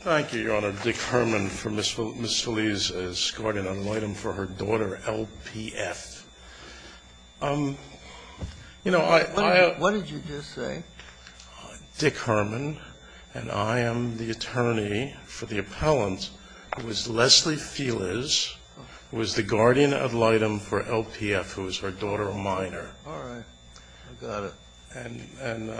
Thank you, Your Honor. Dick Herman for Ms. Feliz as guardian ad litem for her daughter LPF. What did you just say? Dick Herman, and I am the attorney for the appellant who is Leslie Feliz, who is the guardian ad litem for LPF, who is her daughter, a minor. All right. I got it. And,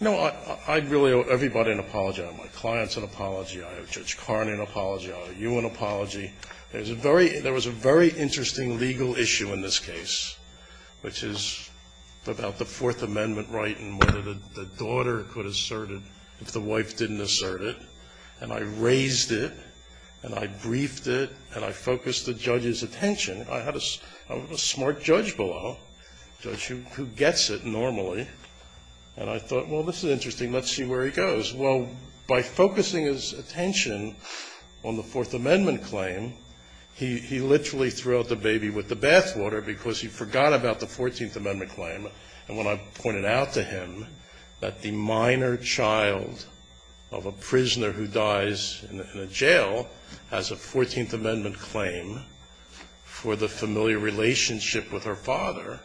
you know, I really owe everybody an apology. I owe my clients an apology. I owe Judge Carney an apology. I owe you an apology. There was a very interesting legal issue in this case, which is about the Fourth Amendment right and whether the daughter could assert it if the wife didn't assert it. And I raised it, and I briefed it, and I focused the judge's attention. I had a smart judge below, a judge who gets it normally. And I thought, well, this is interesting. Let's see where he goes. Well, by focusing his attention on the Fourth Amendment claim, he literally threw out the baby with the bathwater because he forgot about the Fourteenth Amendment claim. And when I pointed out to him that the minor child of a prisoner who dies in a jail has a Fourteenth Amendment claim for the familiar relationship with her father,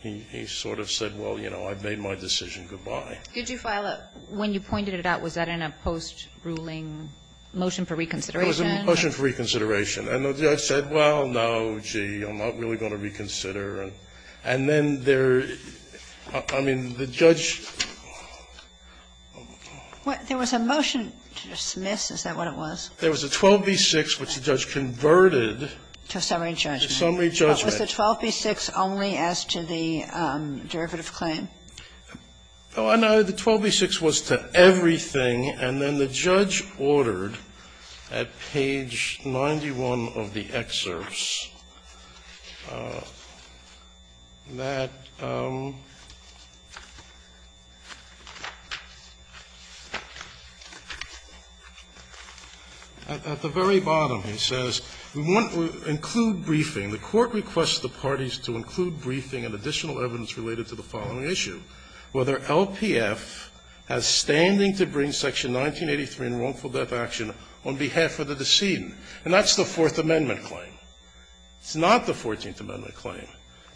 he sort of said, well, you know, I've made my decision. Good-bye. Could you file a ---- When you pointed it out, was that in a post-ruling motion for reconsideration? It was a motion for reconsideration. And the judge said, well, no, gee, I'm not really going to reconsider. And then there, I mean, the judge ---- There was a motion to dismiss, is that what it was? There was a 12b-6, which the judge converted. To a summary judgment. To a summary judgment. Was the 12b-6 only as to the derivative claim? No, the 12b-6 was to everything. And then the judge ordered at page 91 of the excerpts that at the very bottom he says, we want to include briefing. The Court requests the parties to include briefing and additional evidence related to the following issue, whether LPF has standing to bring section 1983 in wrongful death action on behalf of the decedent. And that's the Fourth Amendment claim. It's not the Fourteenth Amendment claim.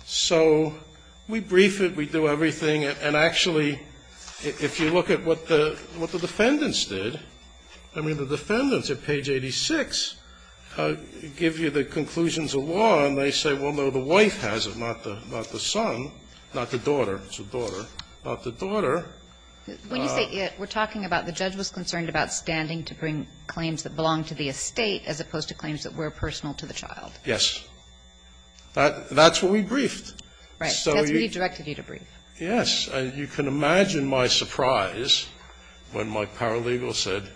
So we brief it, we do everything. And actually, if you look at what the defendants did, I mean, the defendants at page 86 give you the conclusions of law, and they say, well, no, the wife has it, not the son, not the daughter. It's the daughter. Not the daughter. Kagan. When you say it, we're talking about the judge was concerned about standing to bring claims that belong to the estate as opposed to claims that were personal to the child. Yes. That's what we briefed. Right. That's what he directed you to brief. Yes. You can imagine my surprise when my paralegal said,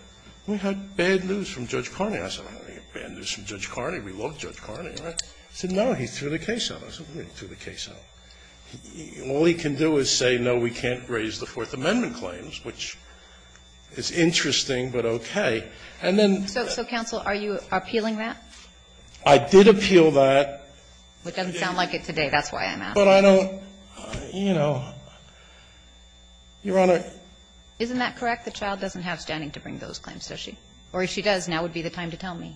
we had bad news from Judge Carney. I said, we had bad news from Judge Carney. We love Judge Carney. He said, no, he threw the case out. I said, we didn't throw the case out. All he can do is say, no, we can't raise the Fourth Amendment claims, which is interesting, but okay. And then the other thing. So, counsel, are you appealing that? I did appeal that. It doesn't sound like it today. That's why I'm asking. But I don't, you know, Your Honor. Isn't that correct? The child doesn't have standing to bring those claims, does she? Or if she does, now would be the time to tell me.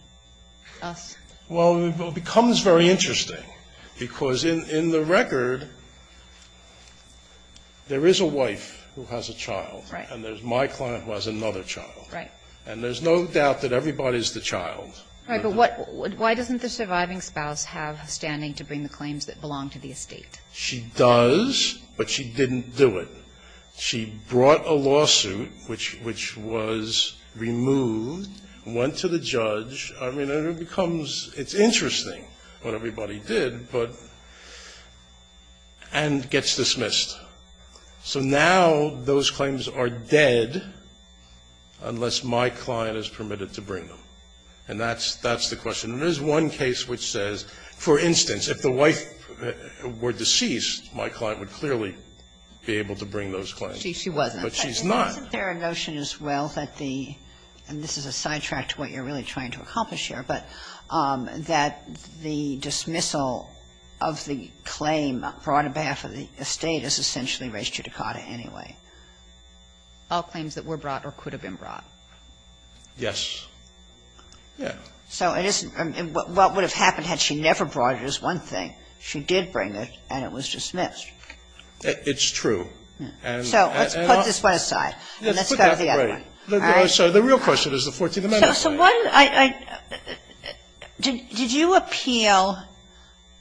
Well, it becomes very interesting, because in the record, there is a wife who has a child, and there's my client who has another child. Right. And there's no doubt that everybody's the child. Right. But what why doesn't the surviving spouse have standing to bring the claims that belong to the estate? She does, but she didn't do it. She brought a lawsuit, which was removed, went to the judge. I mean, it becomes ‑‑ it's interesting what everybody did, but ‑‑ and gets dismissed. So now those claims are dead unless my client is permitted to bring them. And that's the question. There is one case which says, for instance, if the wife were deceased, my client would clearly be able to bring those claims. She wasn't. But she's not. Isn't there a notion as well that the ‑‑ and this is a sidetrack to what you're really trying to accomplish here, but that the dismissal of the claim brought on behalf of the estate is essentially res judicata anyway? All claims that were brought or could have been brought. Yes. Yeah. So it isn't ‑‑ what would have happened had she never brought it is one thing. She did bring it, and it was dismissed. It's true. So let's put this one aside, and let's go to the other one. Right. So the real question is the 14th Amendment. So what ‑‑ did you appeal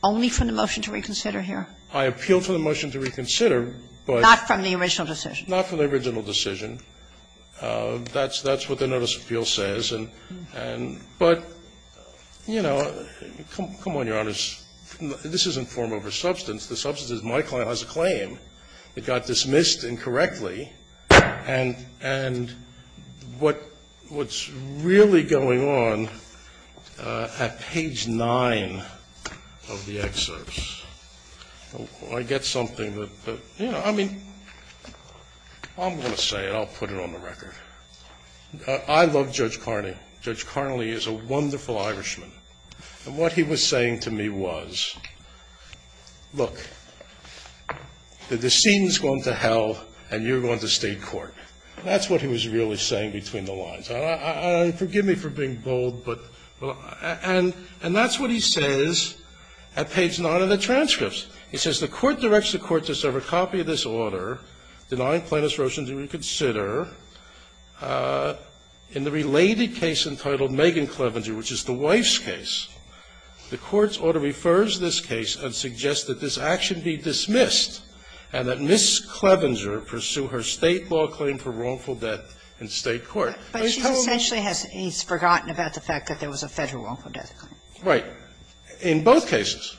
only from the motion to reconsider here? I appealed for the motion to reconsider, but ‑‑ Not from the original decision. Not from the original decision. That's what the notice of appeal says. But, you know, come on, Your Honors. This isn't form over substance. The substance is my client has a claim. It got dismissed incorrectly. And what's really going on at page 9 of the excerpts, I get something that, you know, I mean, I'm going to say it. I'll put it on the record. I love Judge Carnley. Judge Carnley is a wonderful Irishman. And what he was saying to me was, look, the scene's gone to hell, and you're going to want to state court. That's what he was really saying between the lines. And forgive me for being bold, but ‑‑ and that's what he says at page 9 of the transcripts. He says, The court directs the court to serve a copy of this order denying Plaintiff's motion to reconsider. In the related case entitled Megan Clevenger, which is the wife's case, the court's order refers this case and suggests that this action be dismissed and that Ms. Clevenger pursue her State law claim for wrongful death in State court. But he's told me ‑‑ But she essentially has ‑‑ he's forgotten about the fact that there was a Federal wrongful death claim. Right. In both cases.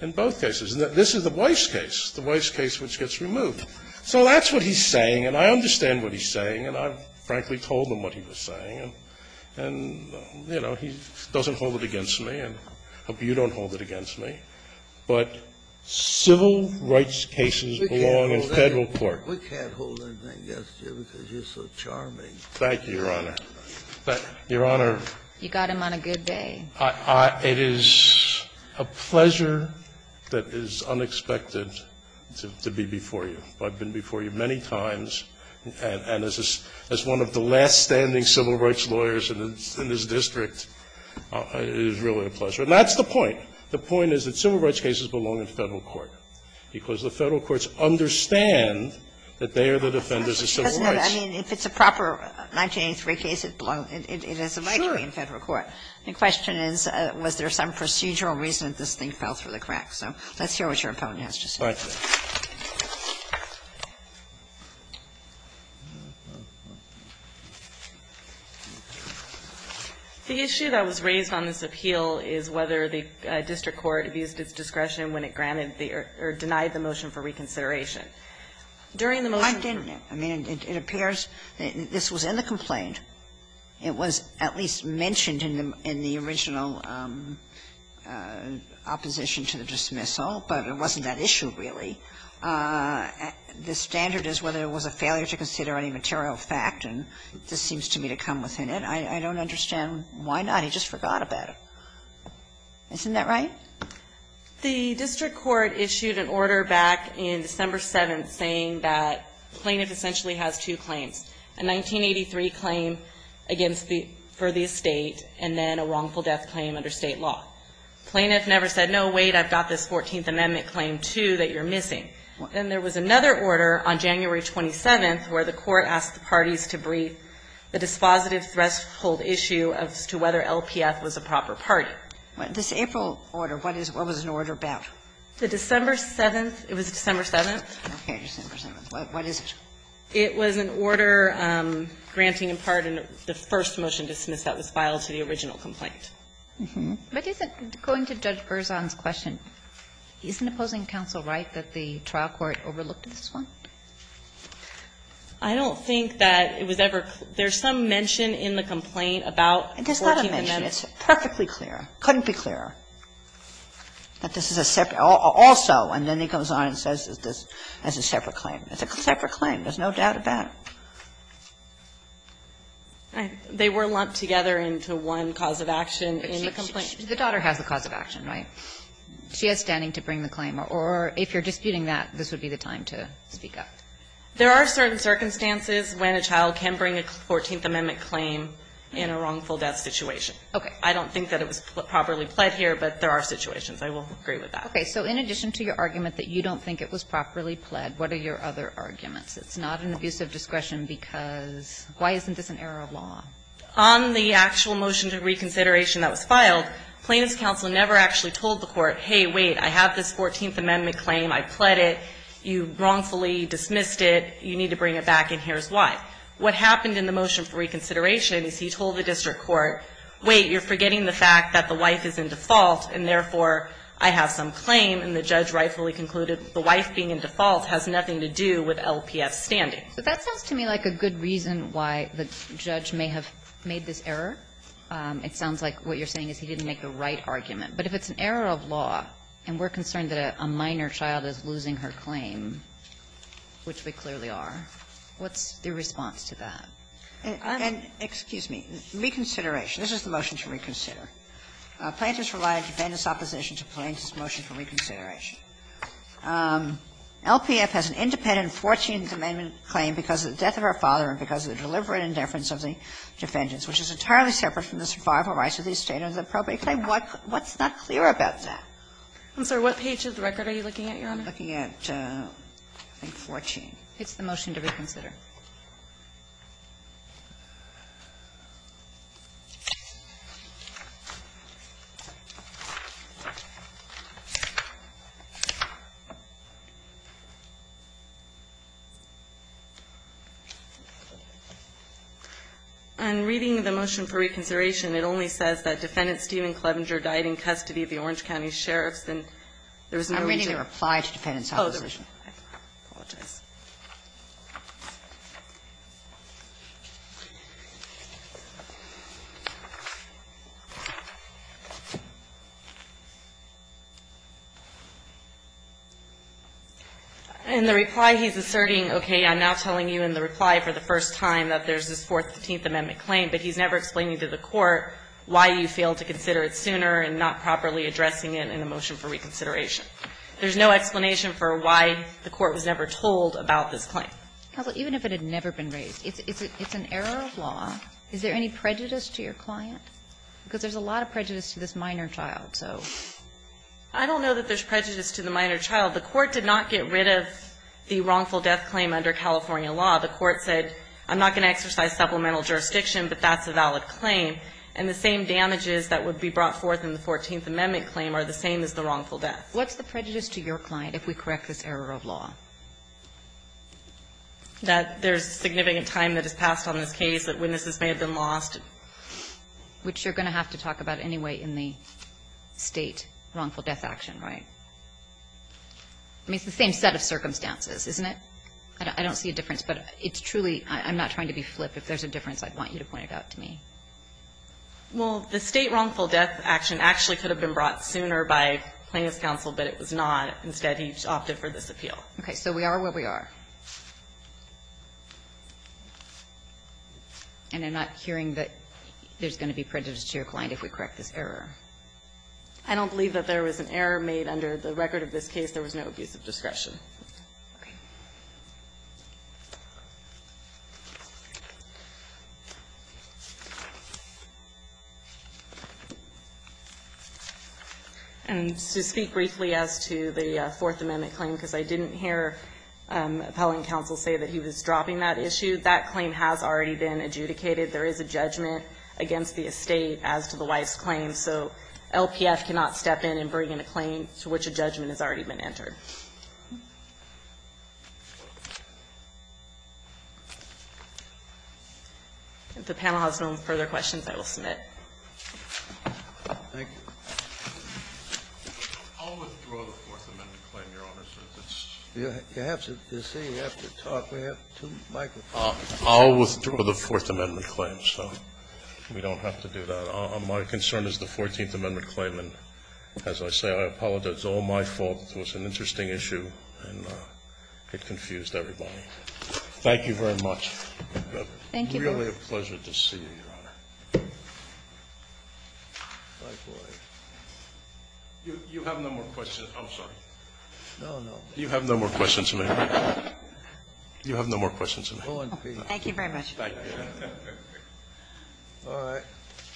In both cases. And this is the wife's case, the wife's case which gets removed. So that's what he's saying, and I understand what he's saying, and I frankly told him what he was saying. And, you know, he doesn't hold it against me, and I hope you don't hold it against me, but civil rights cases belong in Federal court. We can't hold anything against you because you're so charming. Thank you, Your Honor. Your Honor. You got him on a good day. It is a pleasure that is unexpected to be before you. I've been before you many times, and as one of the last standing civil rights lawyers And that's the point. The point is that civil rights cases belong in Federal court, because the Federal courts understand that they are the defenders of civil rights. Doesn't it? I mean, if it's a proper 1983 case, it has a right to be in Federal court. Sure. The question is, was there some procedural reason that this thing fell through the cracks? So let's hear what your opponent has to say. All right. The issue that was raised on this appeal is whether the district court abused its discretion when it granted the or denied the motion for reconsideration. During the motion to the dismissal. I didn't. I mean, it appears that this was in the complaint. It was at least mentioned in the original opposition to the dismissal, but it wasn't that issue, really. The standard is whether it was a failure to consider any material fact, and this seems to me to come within it. I don't understand why not. He just forgot about it. Isn't that right? The district court issued an order back in December 7th saying that the plaintiff essentially has two claims, a 1983 claim against the estate and then a wrongful death claim under State law. The plaintiff never said, no, wait, I've got this 14th Amendment claim, too, that you're missing. And there was another order on January 27th where the court asked the parties to brief the dispositive threshold issue as to whether LPF was a proper party. This April order, what is the order about? The December 7th, it was December 7th. Okay, December 7th. What is it? It was an order granting in part the first motion dismissed that was filed to the original complaint. But isn't, going to Judge Berzon's question, isn't opposing counsel right that the trial court overlooked this one? I don't think that it was ever clear. There's some mention in the complaint about 14th Amendment. It's not a mention. It's perfectly clear. It couldn't be clearer that this is a separate also, and then he goes on and says this is a separate claim. It's a separate claim. There's no doubt about it. They were lumped together into one cause of action in the complaint. The daughter has the cause of action, right? She has standing to bring the claim. Or if you're disputing that, this would be the time to speak up. There are certain circumstances when a child can bring a 14th Amendment claim in a wrongful death situation. Okay. I don't think that it was properly pled here, but there are situations. I will agree with that. Okay. So in addition to your argument that you don't think it was properly pled, what are your other arguments? It's not an abuse of discretion because why isn't this an error of law? On the actual motion to reconsideration that was filed, Plaintiff's counsel never actually told the court, hey, wait, I have this 14th Amendment claim, I pled it, you wrongfully dismissed it, you need to bring it back, and here's why. What happened in the motion for reconsideration is he told the district court, wait, you're forgetting the fact that the wife is in default, and therefore, I have some claim, and the judge rightfully concluded the wife being in default has nothing to do with LPF's standing. But that sounds to me like a good reason why the judge may have made this error. It sounds like what you're saying is he didn't make the right argument. But if it's an error of law and we're concerned that a minor child is losing her claim, which we clearly are, what's your response to that? And I'm going to say, excuse me, reconsideration. This is the motion to reconsider. Plaintiff's relied on defendant's opposition to Plaintiff's motion for reconsideration. LPF has an independent 14th Amendment claim because of the death of her father and because of the deliberate indifference of the defendant, which is entirely separate from the survival rights of the estate under the probate claim. What's not clear about that? I'm sorry. What page of the record are you looking at, Your Honor? I'm looking at, I think, 14. It's the motion to reconsider. On reading the motion for reconsideration, it only says that Defendant Stephen Clevenger died in custody of the Orange County Sheriffs, and there was no reason to apply to defendant's opposition. I apologize. In the reply, he's asserting, okay, I'm now telling you in the reply for the first time that there's this 14th Amendment claim, but he's never explaining to the court why you failed to consider it sooner and not properly addressing it in the motion for reconsideration. And the court was never told about this claim. Kagan, even if it had never been raised, it's an error of law. Is there any prejudice to your client? Because there's a lot of prejudice to this minor child, so. I don't know that there's prejudice to the minor child. The court did not get rid of the wrongful death claim under California law. The court said, I'm not going to exercise supplemental jurisdiction, but that's a valid claim, and the same damages that would be brought forth in the 14th Amendment claim are the same as the wrongful death. What's the prejudice to your client if we correct this error of law? That there's significant time that is passed on this case, that witnesses may have been lost. Which you're going to have to talk about anyway in the State wrongful death action, right? I mean, it's the same set of circumstances, isn't it? I don't see a difference, but it's truly – I'm not trying to be flip if there's a difference I want you to point out to me. Well, the State wrongful death action actually could have been brought sooner by plaintiff's counsel, but it was not. Instead, he opted for this appeal. Okay. So we are where we are. And I'm not hearing that there's going to be prejudice to your client if we correct this error. I don't believe that there was an error made under the record of this case. There was no abuse of discretion. Okay. And to speak briefly as to the Fourth Amendment claim, because I didn't hear appellant counsel say that he was dropping that issue, that claim has already been adjudicated. There is a judgment against the estate as to the Weiss claim. So LPF cannot step in and bring in a claim to which a judgment has already been entered. If the panel has no further questions, I will submit. Thank you. I'll withdraw the Fourth Amendment claim, Your Honors. You have to talk. We have two microphones. I'll withdraw the Fourth Amendment claim, so we don't have to do that. My concern is the Fourteenth Amendment claim, and as I say, I apologize. It was all my fault. It was an interesting issue, and it confused everybody. Thank you very much. Thank you. Really a pleasure to see you, Your Honor. You have no more questions. I'm sorry. No, no. You have no more questions, ma'am. You have no more questions, ma'am. Thank you very much. Thank you. All right.